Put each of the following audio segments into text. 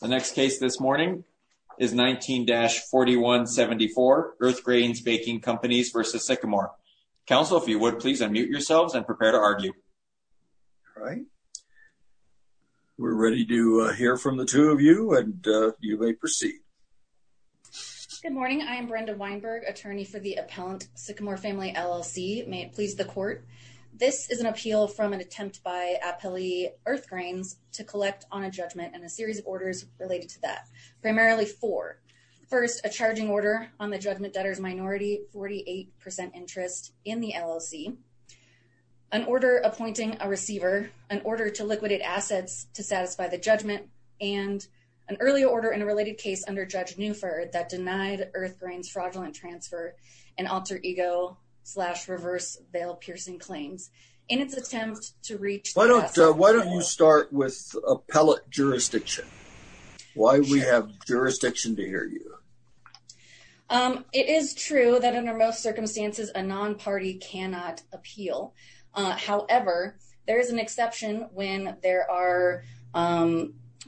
The next case this morning is 19-4174 Earthgrains Baking Companies v. Sycamore. Counsel, if you would please unmute yourselves and prepare to argue. All right, we're ready to hear from the two of you and you may proceed. Good morning, I am Brenda Weinberg, attorney for the appellant Sycamore Family LLC. May it please the court, this is an appeal from an attempt by appellee Earthgrains to collect on a judgment and a series of orders related to that, primarily four. First, a charging order on the judgment debtor's minority 48% interest in the LLC, an order appointing a receiver, an order to liquidate assets to satisfy the judgment, and an earlier order in a related case under Judge Newford that denied Earthgrains fraudulent transfer and alter ego slash reverse bail piercing claims in its reach. Why don't you start with appellate jurisdiction? Why we have jurisdiction to hear you? It is true that under most circumstances a non-party cannot appeal. However, there is an exception when there are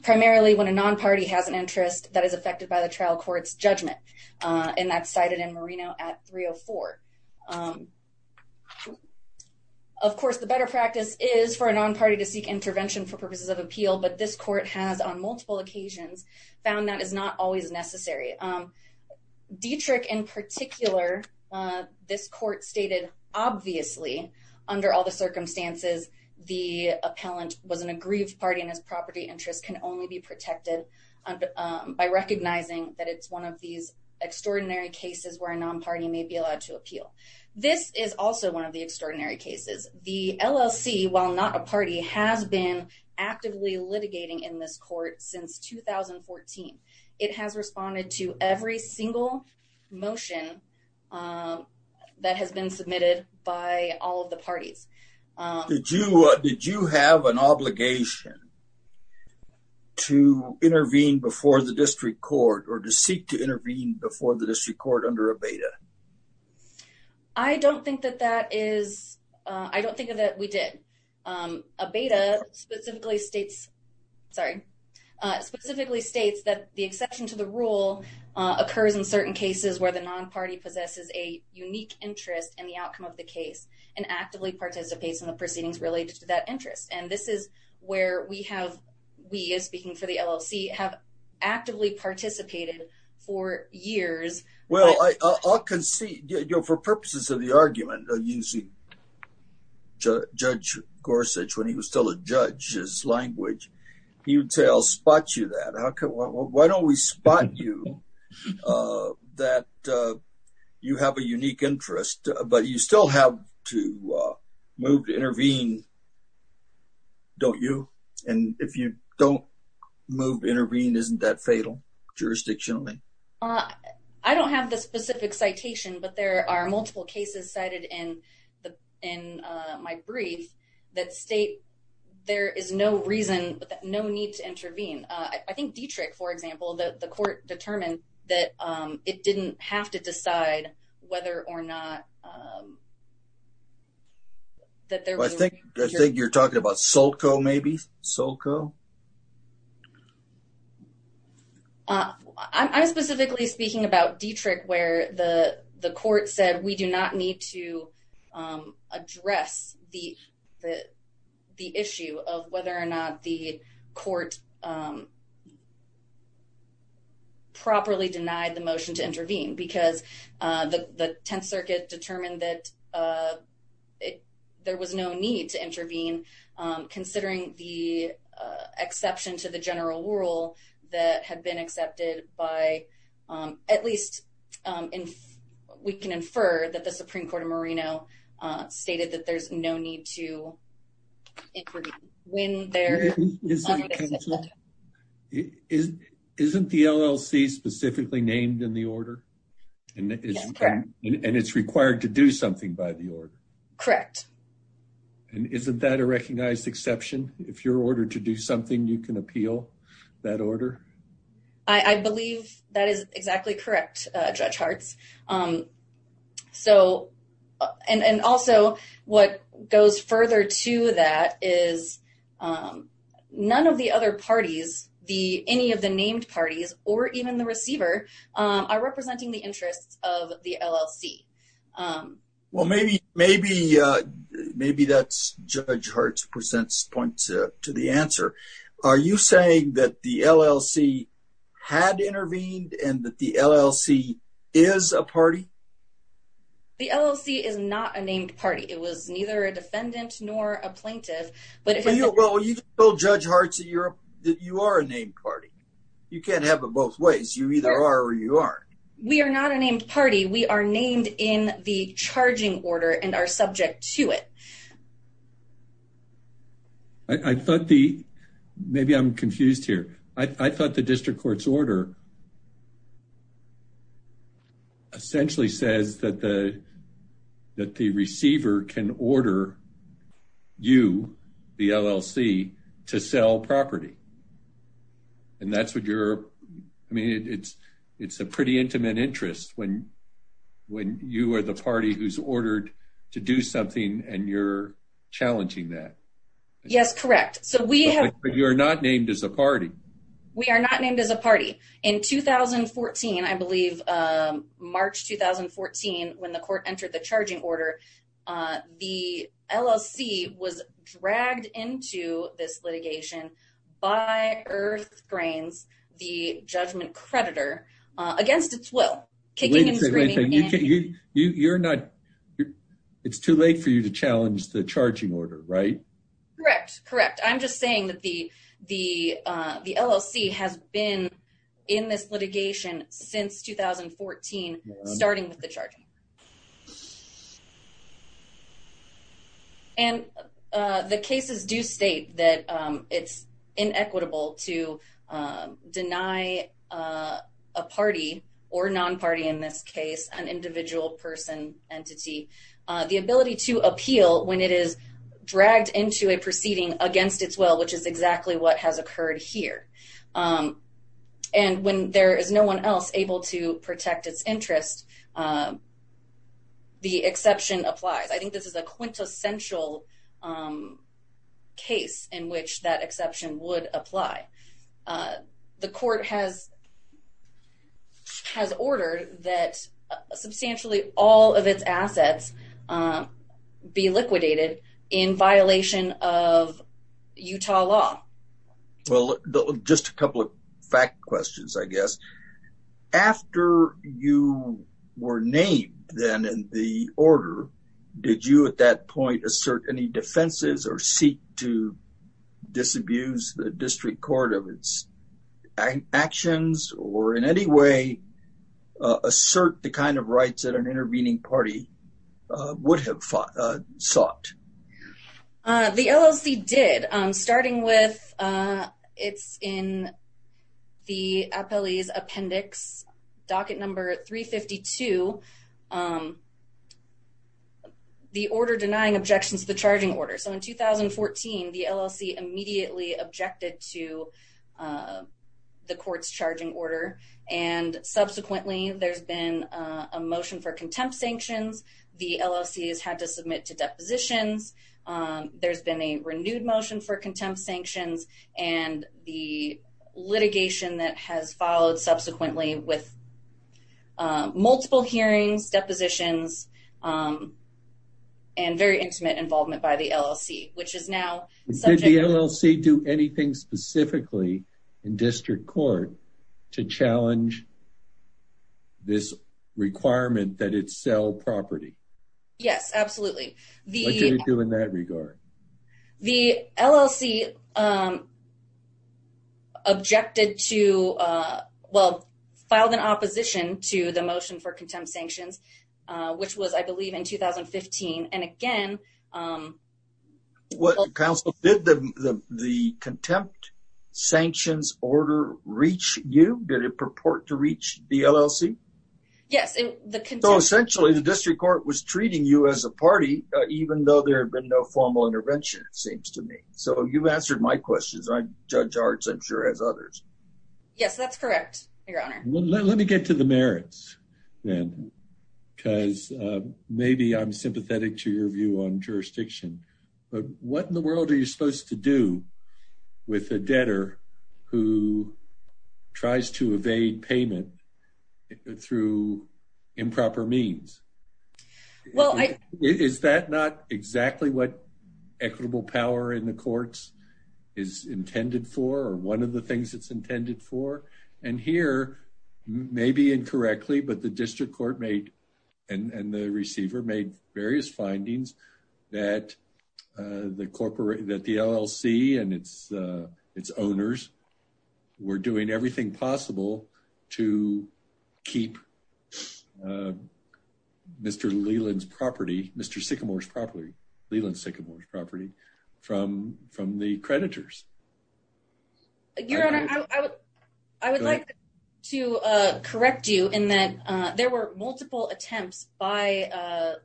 primarily when a non-party has an interest that is affected by the trial court's judgment, and that's cited in Moreno at 304. Of course, the better practice is for a non-party to seek intervention for purposes of appeal, but this court has on multiple occasions found that is not always necessary. Dietrich in particular, this court stated obviously under all the circumstances the appellant was an aggrieved party and his property interest can only be protected by recognizing that it's one of these extraordinary cases where a non-party may be allowed to appeal. This is also one of the extraordinary cases. The LLC, while not a party, has been actively litigating in this court since 2014. It has responded to every single motion that has been submitted by all of the parties. Did you have an obligation to intervene before the district court or to seek to intervene before the district court under a beta? I don't think that we did. A beta specifically states that the exception to the rule occurs in certain cases where the non-party possesses a unique interest in the outcome of the case and actively participates in the proceedings related to that interest, and this is where we have, we as speaking for the LLC, have actively participated for years. Well, I'll concede, you know, for purposes of the argument of using Judge Gorsuch when he was still a judge, his language, he would say I'll spot you that. Why don't we spot you that you have a unique interest, but you still have to move to intervene, don't you? And if you don't move to intervene, isn't that fatal jurisdictionally? I don't have the specific citation, but there are multiple cases cited in my brief that state there is no reason, no need to intervene. I think Dietrich, for example, the court determined that it didn't have to decide whether or not that there was... I think you're talking about SoCo maybe? SoCo? I'm specifically speaking about Dietrich where the court said we do not need to address the issue of whether or not the court properly denied the motion to intervene because the Tenth Circuit determined that there was no need to intervene considering the exception to the general rule that had been stated that there's no need to intervene. Isn't the LLC specifically named in the order? Yes, correct. And it's required to do something by the order? Correct. And isn't that a recognized exception? If you're ordered to do something, you can appeal that order? I believe that is correct. And so what goes further to that is none of the other parties, any of the named parties, or even the receiver are representing the interests of the LLC. Well, maybe that's Judge Hart's point to the answer. Are you saying that the LLC had intervened and that the LLC is a party? The LLC is not a named party. It was neither a defendant nor a plaintiff. Well, you told Judge Hart that you are a named party. You can't have it both ways. You either are or you aren't. We are not a named party. We are named in the charging order and are subject to it. I thought the... maybe I'm confused here. I thought the district court's order essentially says that the receiver can order you, the LLC, to sell property. And that's what you're... I mean, it's a pretty intimate interest when you are the party who's ordered to do something and you're challenging that. Yes, correct. So we have... But you're named as a party. We are not named as a party. In 2014, I believe, March 2014, when the court entered the charging order, the LLC was dragged into this litigation by Earthgrains, the judgment creditor, against its will, kicking and screaming and... Wait a second. You're not... It's too late for you to challenge the charging order, right? Correct. Correct. I'm just saying that the LLC has been in this litigation since 2014, starting with the charging. And the cases do state that it's inequitable to deny a party, or non-party in this case, an individual person entity, the ability to appeal when it is dragged into a proceeding against its will, which is exactly what has occurred here. And when there is no one else able to protect its interest, the exception applies. I think this is a quintessential case in which that exception would apply. The court has ordered that substantially all of its assets be liquidated in violation of Utah law. Well, just a couple of fact questions, I guess. After you were named then in the order, did you at that point assert any defenses or seek to disabuse the district court of its actions, or in any way assert the kind of rights that an intervening party would have sought? The LLC did, starting with... It's in the appellee's appendix, docket number 352, the order denying objections to the charging order. So in 2014, the LLC immediately objected to the court's charging order. And subsequently, there's been a motion for contempt sanctions. The LLC has had to submit to depositions. There's been a renewed motion for contempt sanctions. And the litigation that has followed subsequently with multiple hearings, depositions, and very intimate involvement by the LLC, which is now subject... Did the LLC do anything specifically in district court to challenge this requirement that it sell property? Yes, absolutely. What did it do in that regard? The LLC objected to... Well, filed an opposition to the motion for contempt sanctions, which was, I believe, in 2015. And again... Counsel, did the contempt sanctions order reach you? Did it purport to reach the LLC? Yes. So essentially, the district court was treating you as a party, even though there had been no formal intervention, it seems to me. So you've answered my questions, and Judge Arts, I'm sure, has others. Yes, that's correct, Your Honor. Let me get to the merits then, because maybe I'm sympathetic to your view on jurisdiction. But what in the world are you supposed to do with a debtor who tries to evade payment through improper means? Is that not exactly what equitable power in the courts is intended for, or one of the things it's intended for? And here, maybe incorrectly, but the district court and the receiver made various findings that the LLC and its owners were doing everything possible to keep Mr. Leland's property, Mr. Sycamore's property, Leland Sycamore's property, from the creditors. Your Honor, I would like to correct you in that there were multiple attempts by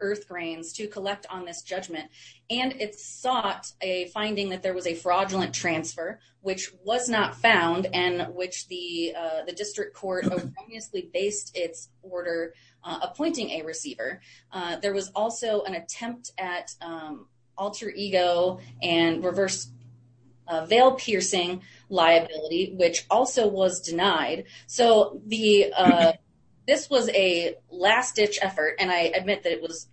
Earthgrains to collect on this judgment, and it sought a finding that there was a fraudulent transfer, which was not found, and which the district court based its order appointing a receiver. There was also an attempt at alter ego and reverse veil-piercing liability, which also was denied. So this was a last-ditch effort, and I admit that it was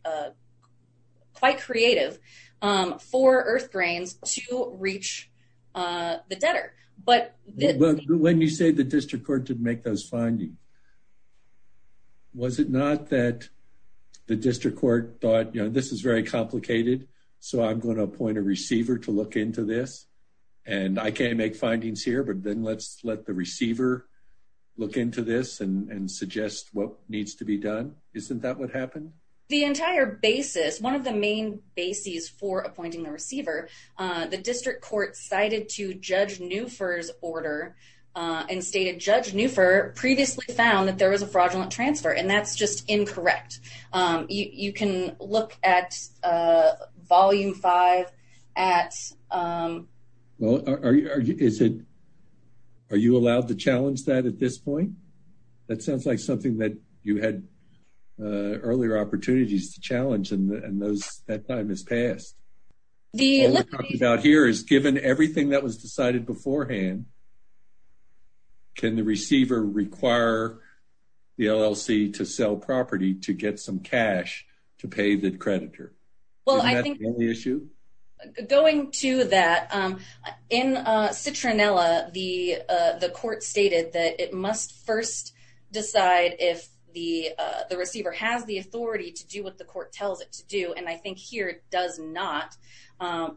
quite creative for Earthgrains to reach the debtor. But... When you say the district court did make those findings, was it not that the district court thought, you know, this is very complicated, so I'm going to appoint a receiver to look into this, and I can't make findings here, but then let's let the receiver look into this and suggest what needs to be done? Isn't that what happened? The entire basis, one of the main bases for appointing the receiver, the district court cited to Judge Neufer's order and stated, Judge Neufer previously found that there was a fraudulent transfer, and that's just incorrect. You can look at volume five at... Well, are you allowed to challenge that at this point? That sounds like something that you had earlier opportunities to challenge, and that time has passed. What we're talking about here is given everything that was decided beforehand, can the receiver require the LLC to sell property to get some cash to pay the creditor? Well, I think... Isn't that the only issue? Going to that, in Citronella, the court stated that it must first decide if the receiver has the authority to do what the court tells it to do, and I think here it does not,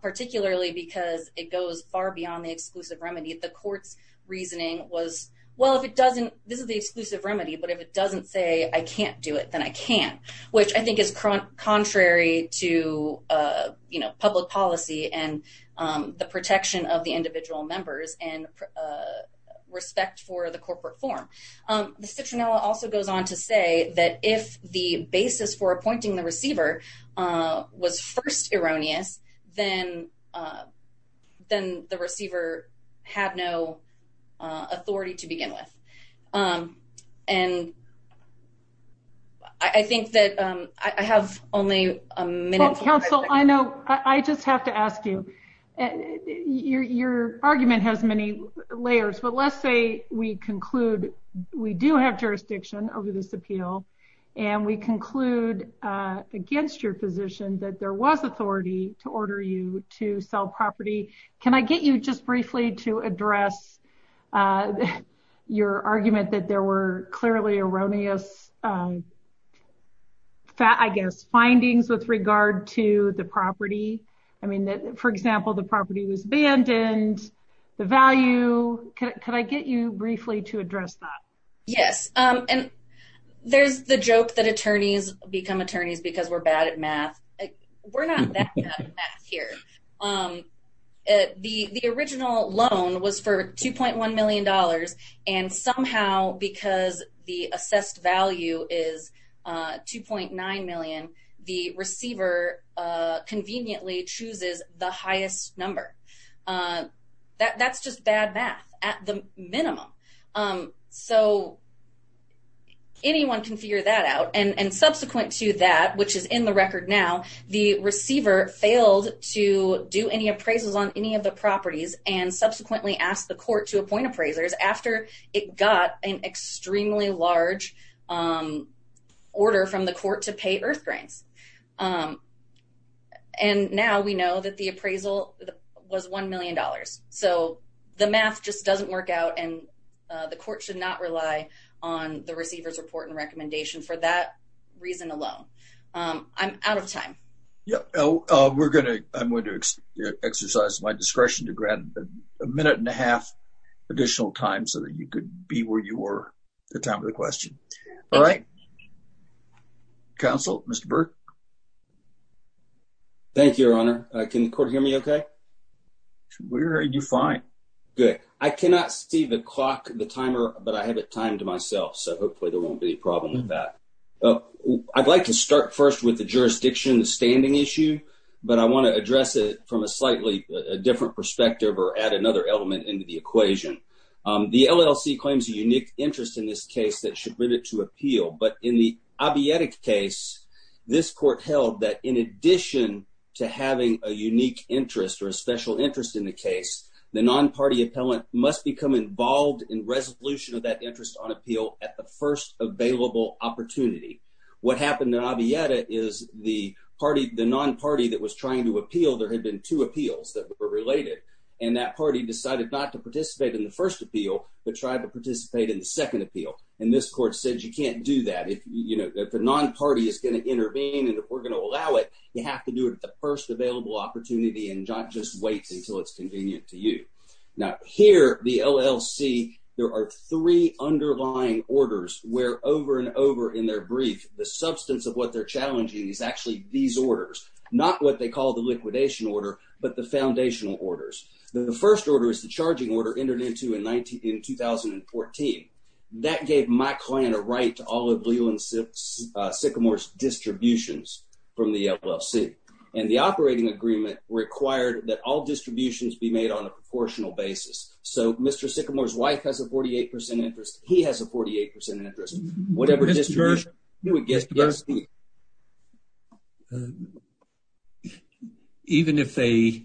particularly because it goes far beyond the exclusive remedy. The court's reasoning was, well, if it doesn't... This is the exclusive remedy, but if it doesn't say I can't do it, then I can't, which I think is contrary to public policy and the protection of the individual members and respect for the corporate form. Citronella also goes on to say that if the basis for appointing the receiver was first erroneous, then the receiver had no authority to begin with. And I think that I have only a minute... Well, counsel, I know... I just have to ask you, your argument has many layers, but let's say we conclude we do have jurisdiction over this appeal, and we conclude against your position that there was authority to order you to sell property. Can I get you just briefly to address your argument that there were clearly erroneous findings with regard to the property? I mean, for example, the property was abandoned, the value... Could I get you briefly to address that? Yes. And there's the joke that attorneys become attorneys because we're bad at math. We're not that bad at math here. The original loan was for $2.1 million, and somehow because the assessed value is $2.9 million, the receiver conveniently chooses the highest number. That's just bad math at the minimum. So anyone can figure that out. And subsequent to that, which is in the record now, the receiver failed to do any appraisals on any of the properties, and subsequently asked the court to appoint appraisers after it got an extremely large order from the court to pay earth grains. And now we know that the appraisal was $1 million. So the math just doesn't work out, and the court should not rely on the receiver's report and recommendation for that reason alone. I'm out of time. I'm going to exercise my discretion to grant a minute and a half additional time so that you could be where you were at the time of the question. All right. Counsel, Mr. Burke? Thank you, Your Honor. Can the court hear me okay? We're hearing you fine. Good. I cannot see the clock, the timer, but I have it timed to myself, so hopefully there won't be a problem with that. I'd like to start first with the jurisdiction standing issue, but I want to address it from a slightly different perspective or add another element into the equation. The LLC claims a unique interest in this case that should limit it to appeal, but in the Abiotic case, this court held that in addition to having a unique interest or a special interest in the case, the non-party appellant must become involved in resolution of interest on appeal at the first available opportunity. What happened in Abiotic is the non-party that was trying to appeal, there had been two appeals that were related, and that party decided not to participate in the first appeal but tried to participate in the second appeal, and this court said you can't do that. If a non-party is going to intervene and if we're going to allow it, you have to do it at the first available opportunity and not just wait until it's convenient to you. Now here, the LLC, there are three underlying orders where over and over in their brief, the substance of what they're challenging is actually these orders, not what they call the liquidation order, but the foundational orders. The first order is the charging order entered into in 2014. That gave my client a right to all of Leland Sycamore's distributions from the be made on a proportional basis. So Mr. Sycamore's wife has a 48% interest, he has a 48% interest, whatever distribution. Even if they,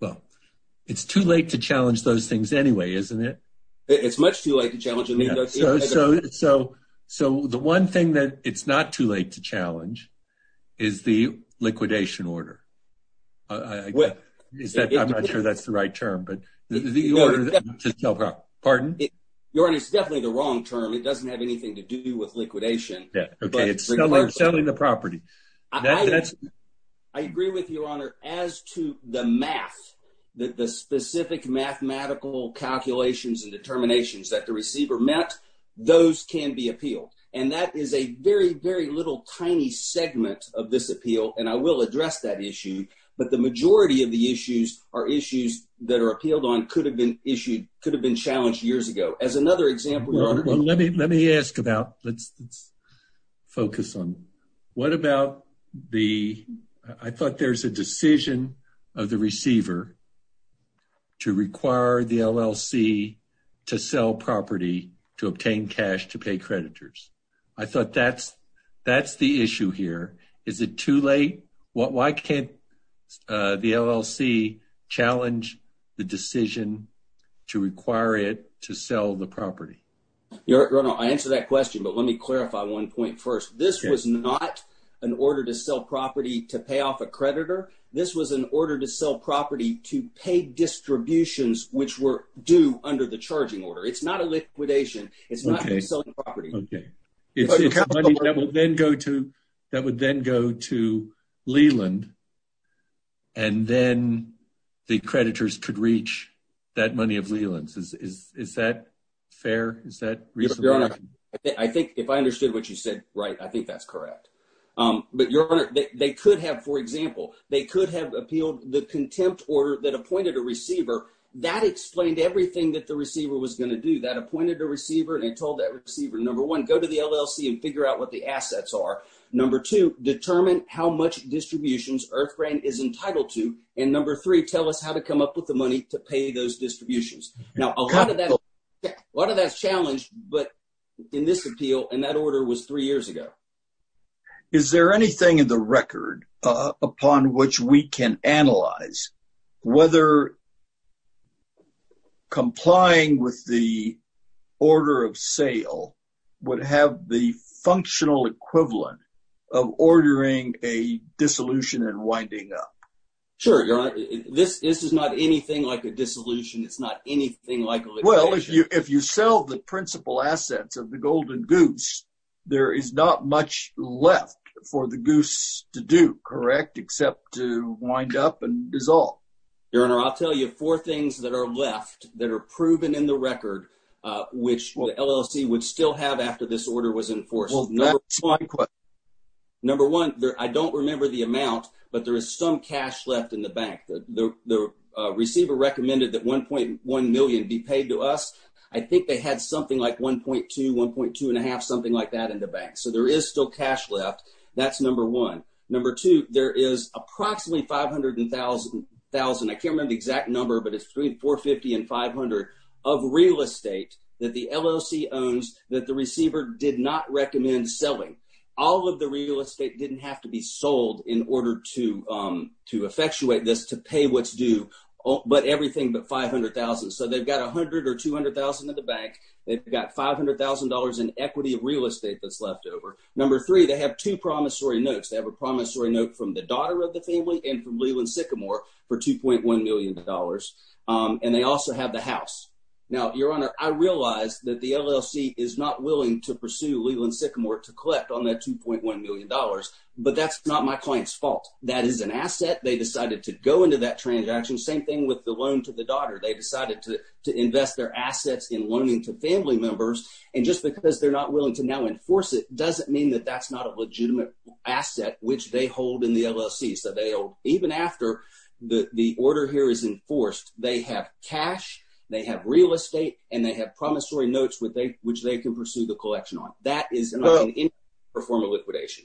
well, it's too late to challenge those things anyway, isn't it? It's much too late to challenge. So the one thing that it's not too late to challenge is the liquidation order. I'm not sure that's the right term, but the order, pardon? Your Honor, it's definitely the wrong term. It doesn't have anything to do with liquidation. Yeah, okay. It's selling the property. I agree with you, Your Honor, as to the math, the specific mathematical calculations and determinations that the receiver met, those can be appealed. And that is a very, very little tiny segment of this appeal. And I will address that issue, but the majority of the issues are issues that are appealed on, could have been issued, could have been challenged years ago. As another example, Your Honor- Well, let me ask about, let's focus on, what about the, I thought there's a decision of the receiver to require the LLC to sell property, to obtain cash, to pay creditors. I thought that's, that's the issue here. Is it too late? Why can't the LLC challenge the decision to require it to sell the property? Your Honor, I answer that question, but let me clarify one point first. This was not an order to sell property to pay off a creditor. This was an order to sell property to pay distributions, which were due under the charging order. It's not a liquidation. It's not selling property. Okay. It's money that would then go to, that would then go to Leland, and then the creditors could reach that money of Leland's. Is that fair? Is that reasonable? Your Honor, I think if I understood what you said, right, I think that's correct. But Your Honor, they could have, for example, they could have appealed the contempt order that appointed a receiver. That explained everything that the receiver was going to do. That appointed a receiver, and they told that receiver, number one, go to the LLC and figure out what the assets are. Number two, determine how much distributions Earthgrain is entitled to. And number three, tell us how to come up with the money to pay those distributions. Now, a lot of that, a lot of that's challenged, but in this appeal, and that order was three years ago. Is there anything in the record upon which we can analyze whether complying with the order of sale would have the functional equivalent of ordering a dissolution and winding up? Sure, Your Honor. This is not anything like a dissolution. It's not anything like a litigation. Well, if you sell the principal assets of the Golden Goose, there is not much left for the goose to do, correct, except to wind up and dissolve. Your Honor, I'll tell you four things that are left that are proven in the record, which LLC would still have after this order was enforced. Well, that's my question. Number one, I don't remember the amount, but there is some cash left in the bank. The receiver recommended that 1.1 million be paid to us. I think they had something like 1.2, 1.2 and a half, something like that in the bank. So there is still cash left. That's number one. Number two, there is approximately $500,000. I can't remember the exact number, but it's $450,000 and $500,000 of real estate that the LLC owns that the receiver did not recommend selling. All of the real estate didn't have to be sold in order to effectuate this to pay what's due, but everything but $500,000. So they've got $100,000 or $200,000 in the bank. They've got $500,000 in equity of real estate that's left over. Number three, they have two promissory notes. They have a promissory note from the daughter of the family and from Leland Sycamore for $2.1 million. And they also have the house. Now, your honor, I realized that the LLC is not willing to pursue Leland Sycamore to collect on that $2.1 million, but that's not my client's fault. That is an asset. They decided to go into that transaction. Same thing with the loan to the daughter. They decided to invest their assets in loaning to family members. And just because they're not willing to now enforce it doesn't mean that that's not a legitimate asset which they hold in the LLC. So even after the order here is enforced, they have cash, they have real estate, and they have promissory notes which they can pursue the collection on. That is not in any form of liquidation.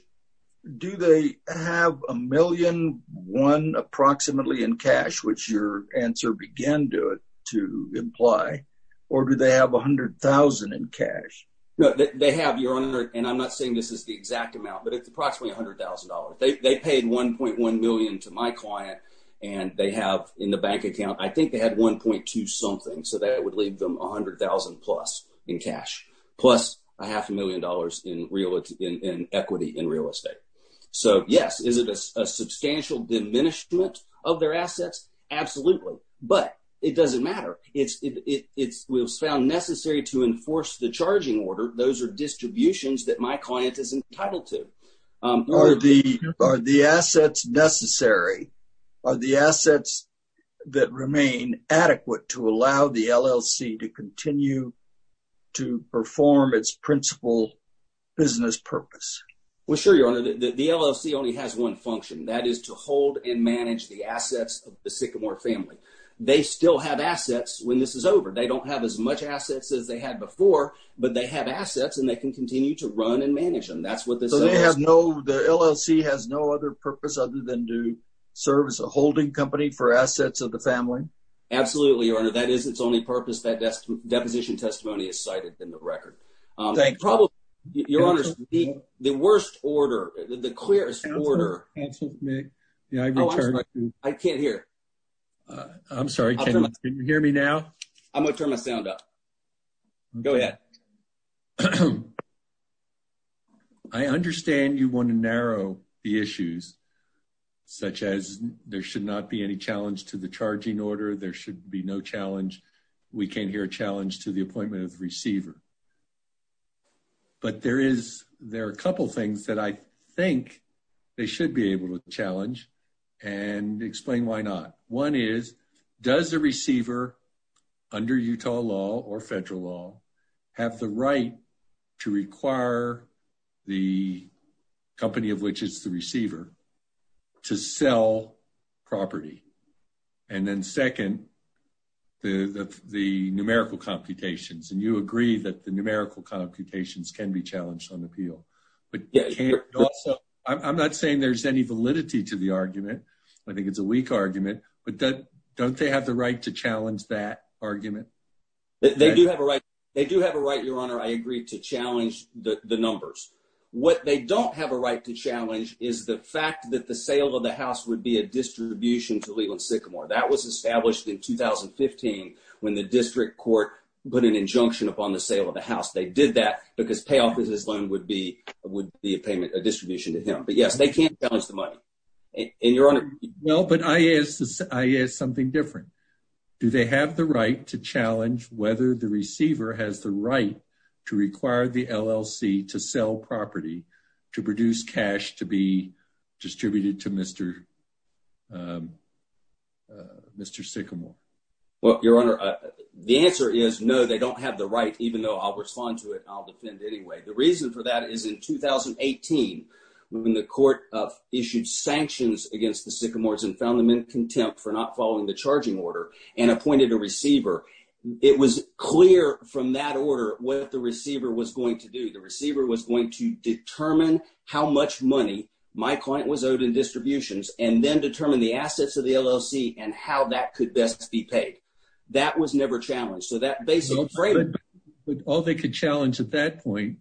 Do they have $1,000,000 approximately in cash, which your answer began to imply, or do they have $100,000 in cash? No, they have, your honor, and I'm not saying this is the exact amount, but it's approximately $100,000. They paid $1.1 million to my client, and they have in the bank account, I think they had $1.2 something, so that would leave them $100,000 plus in cash, plus a half a million dollars in equity in real estate. So yes, is it a substantial diminishment of their assets? Absolutely, but it doesn't matter. It was found necessary to enforce the charging order. Those are distributions that my client is entitled to. Are the assets necessary? Are the assets that remain adequate to allow the LLC to continue to perform its principal business purpose? Well, sure, your honor. The LLC only has one function. That is to hold and manage the assets of the Sycamore family. They still have assets when this is over. They don't have as much assets as they had before, but they have assets, and they can continue to run and manage them. That's what this says. So the LLC has no other purpose other than to serve as a holding company for assets of the family? Absolutely, your honor. That is its only purpose. That deposition testimony is more complicated than the record. Your honor, the worst order, the clearest order... I can't hear. I'm sorry. Can you hear me now? I'm going to turn my sound up. Go ahead. I understand you want to narrow the issues, such as there should not be any challenge to the charging order. There should be no challenge. We can't hear a challenge to the appointment of the receiver. But there are a couple things that I think they should be able to challenge and explain why not. One is, does the receiver under Utah law or federal law have the right to require the company of which is the receiver to sell property? And then second, the numerical computations. And you agree that the numerical computations can be challenged on appeal. I'm not saying there's any validity to the argument. I think it's a weak argument, but don't they have the right to challenge that argument? They do have a right, your honor. I agree to challenge the numbers. What they don't have a right to challenge is the fact that the 2015, when the district court put an injunction upon the sale of the house, they did that because payoff of this loan would be a payment, a distribution to him. But yes, they can't challenge the money. And your honor. No, but I is something different. Do they have the right to challenge whether the receiver has the right to require the LLC to sell property, to produce cash, to be distributed to Mr. Mr. Sycamore? Well, your honor, the answer is no, they don't have the right, even though I'll respond to it. I'll defend anyway. The reason for that is in 2018, when the court of issued sanctions against the sycamores and found them in contempt for not following the charging order and appointed a receiver, it was clear from that how much money my client was owed in distributions and then determine the assets of the LLC and how that could best be paid. That was never challenged. So that basically all they could challenge at that point.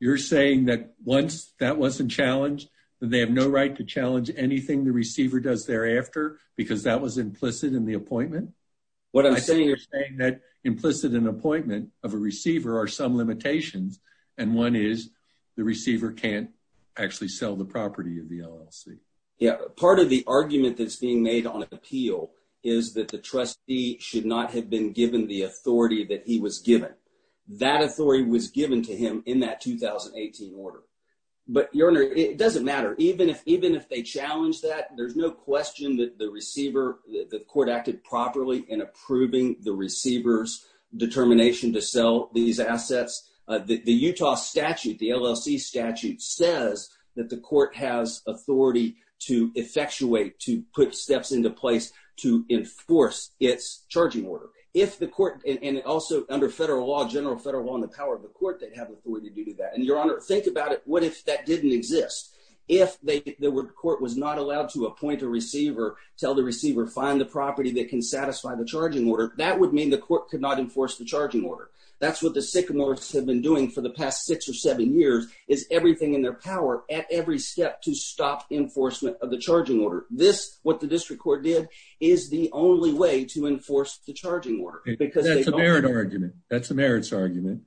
You're saying that once that wasn't challenged, they have no right to challenge anything the receiver does thereafter, because that was implicit in the appointment. What I'm saying is saying that implicit in appointment of a receiver are some limitations. And one is the receiver can't actually sell the property of the LLC. Yeah. Part of the argument that's being made on appeal is that the trustee should not have been given the authority that he was given. That authority was given to him in that 2018 order. But your honor, it doesn't matter. Even if, even if they challenge that, there's no question that the court acted properly in approving the receiver's determination to sell these assets. The Utah statute, the LLC statute says that the court has authority to effectuate, to put steps into place to enforce its charging order. If the court, and also under federal law, general federal law and the power of the court, they have authority to do that. And your honor, think about it. What if that didn't exist? If the court was not allowed to appoint a receiver, tell the receiver, find the property that can satisfy the charging order, that would mean the court could not enforce the charging order. That's what the sycamores have been doing for the past six or seven years is everything in their power at every step to stop enforcement of the charging order. This, what the district court did is the only way to enforce the charging order. Because that's a merit argument. That's a merits argument.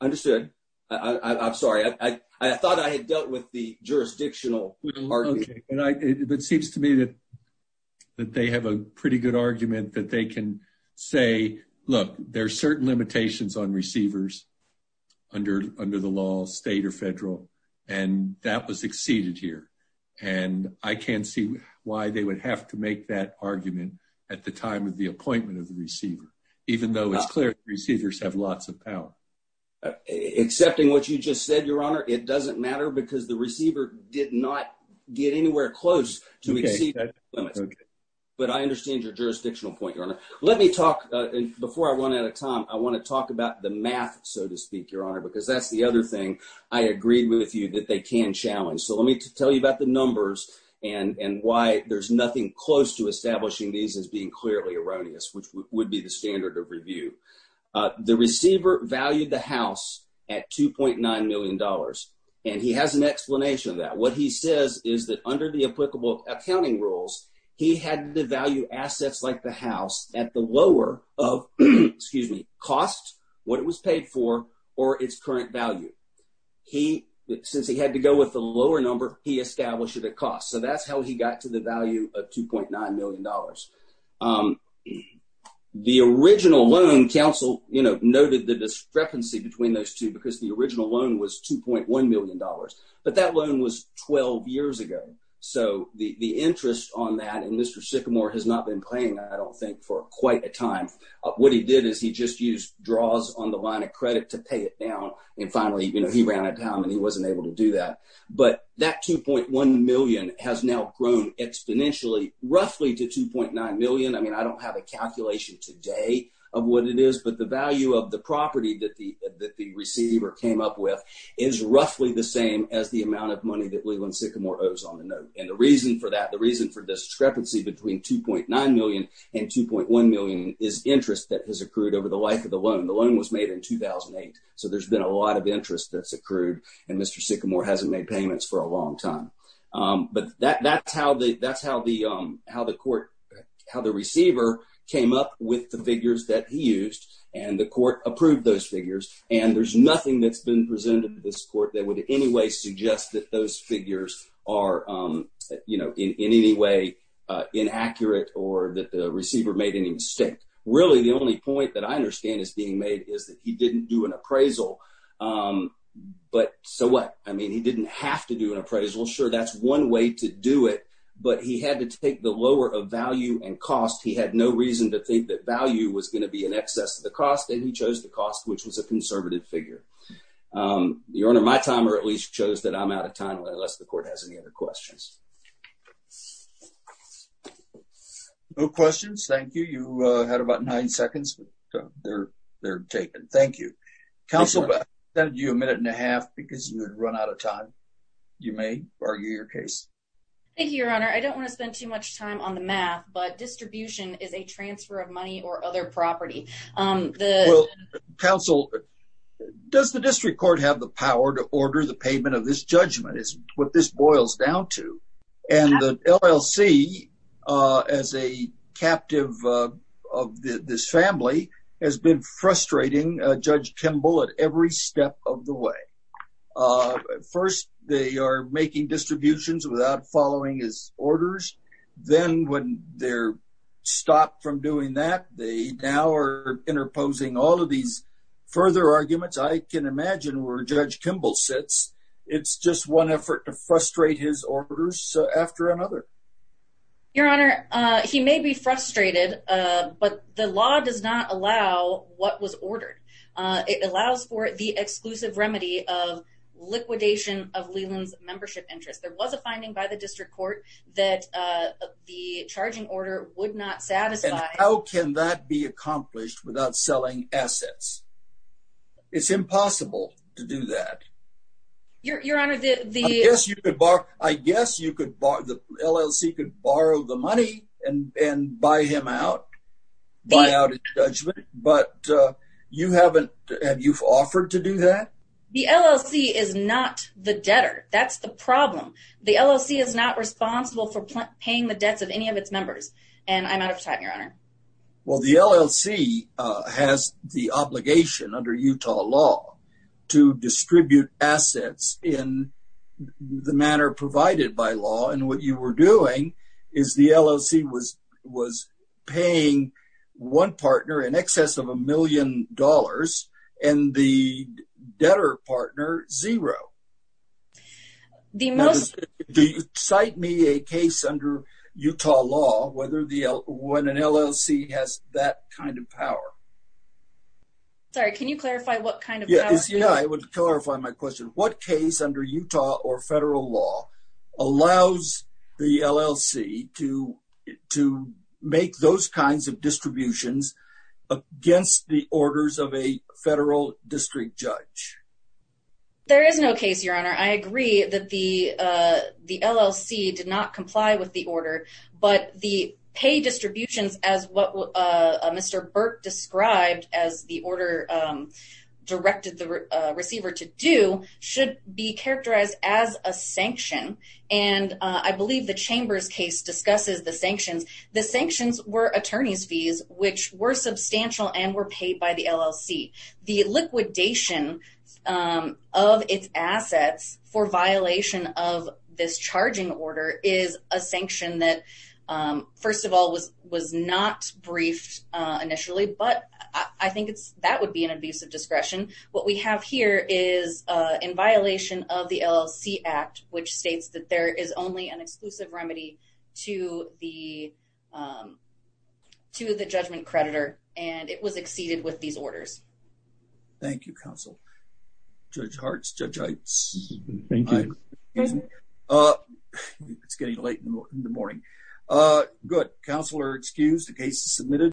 Understood. I'm sorry. I thought I had dealt with the jurisdictional. It seems to me that they have a pretty good argument that they can say, look, there are certain limitations on receivers under the law, state or federal, and that was exceeded here. And I can't see why they would have to make that argument at the time of the appointment of power. Accepting what you just said, your honor, it doesn't matter because the receiver did not get anywhere close to exceed. But I understand your jurisdictional point. Let me talk before I run out of time. I want to talk about the math, so to speak, your honor, because that's the other thing I agreed with you that they can challenge. So let me tell you about the numbers and why there's nothing close to establishing these as being clearly erroneous, which would be the review. The receiver valued the house at $2.9 million. And he has an explanation of that. What he says is that under the applicable accounting rules, he had to value assets like the house at the lower of, excuse me, cost, what it was paid for, or its current value. He, since he had to go with the lower number, he established it at cost. So that's how he got to the value of $2.9 million. The original loan counsel, you know, noted the discrepancy between those two because the original loan was $2.1 million. But that loan was 12 years ago. So the interest on that and Mr. Sycamore has not been playing, I don't think for quite a time. What he did is he just used draws on the line of credit to pay it down. And finally, you know, he ran out of time and he wasn't able to do that. But that $2.1 million has now grown exponentially, roughly to $2.9 million. I mean, I don't have a calculation today of what it is, but the value of the property that the receiver came up with is roughly the same as the amount of money that Leland Sycamore owes on the note. And the reason for that, the reason for discrepancy between $2.9 million and $2.1 million is interest that has accrued over the life of the loan. The loan was made in 2008. So there's been a lot of interest that's accrued and Mr. Sycamore hasn't made payments for a long time. But that's how the court, how the receiver came up with the figures that he used and the court approved those figures. And there's nothing that's been presented to this court that would in any way suggest that those figures are, you know, in any way inaccurate or that the receiver made any mistake. Really, the only point that I understand is being made is that he didn't do an appraisal. But so what? I mean, he didn't have to do an appraisal. Sure, that's one way to do it. But he had to take the lower of value and cost. He had no reason to think that value was going to be in excess of the cost. And he chose the cost, which was a conservative figure. Your Honor, my timer at least shows that I'm out of time unless the court has any other questions. No questions. Thank you. You had about nine seconds. They're taken. Thank you. Counsel, I'll give you a minute and a half because you had run out of time. You may argue your case. Thank you, Your Honor. I don't want to spend too much time on the math, but distribution is a transfer of money or other property. Counsel, does the district court have the power to order the payment of this judgment? It's what this boils down to. And the LLC, as a captive of this family, has been frustrating Judge Kimball at every step of the way. First, they are making distributions without following his orders. Then when they're stopped from doing that, they now are interposing all of these further arguments. I can imagine where Judge Kimball sits. It's just one effort to frustrate his orders after another. Your Honor, he may be frustrated, but the law does not allow what was ordered. It allows for the exclusive remedy of liquidation of Leland's membership interest. There was a finding by the district court that the charging order would not satisfy. How can that be accomplished without selling assets? It's impossible to do that. Your Honor, I guess the LLC could borrow the money and buy him out, buy out his judgment, but have you offered to do that? The LLC is not the debtor. That's the problem. The LLC is not responsible for paying the debts of any of its members. And I'm out of time, Your Honor. Well, the LLC has the obligation under Utah law to distribute assets in the manner provided by law. And what you were doing is the LLC was paying one partner in excess of a million dollars and the debtor partner zero. Do you cite me a case under Utah law when an LLC has that kind of power? Sorry, can you clarify what kind of power? Yeah, I would clarify my question. What case under Utah or federal law allows the LLC to make those kinds of distributions against the orders of a federal district judge? There is no case, Your Honor. I agree that the LLC did not comply with the order, but the pay distributions as what Mr. Burke described as the order directed the receiver to do should be characterized as a sanction. And I believe the Chamber's case discusses the sanctions. The sanctions were attorney's fees, which were substantial and were paid by the LLC. The liquidation of its assets for violation of this charging order is a sanction that, first of all, was not briefed initially, but I think that would be an abuse of discretion. What we have here is in violation of the LLC Act, which states that there is only an exclusive remedy to the judgment creditor, and it was exceeded with these orders. Thank you, counsel. Judge Hartz, Judge Heitz. Thank you. It's getting late in the morning. Good. Counsel are excused. The case is submitted.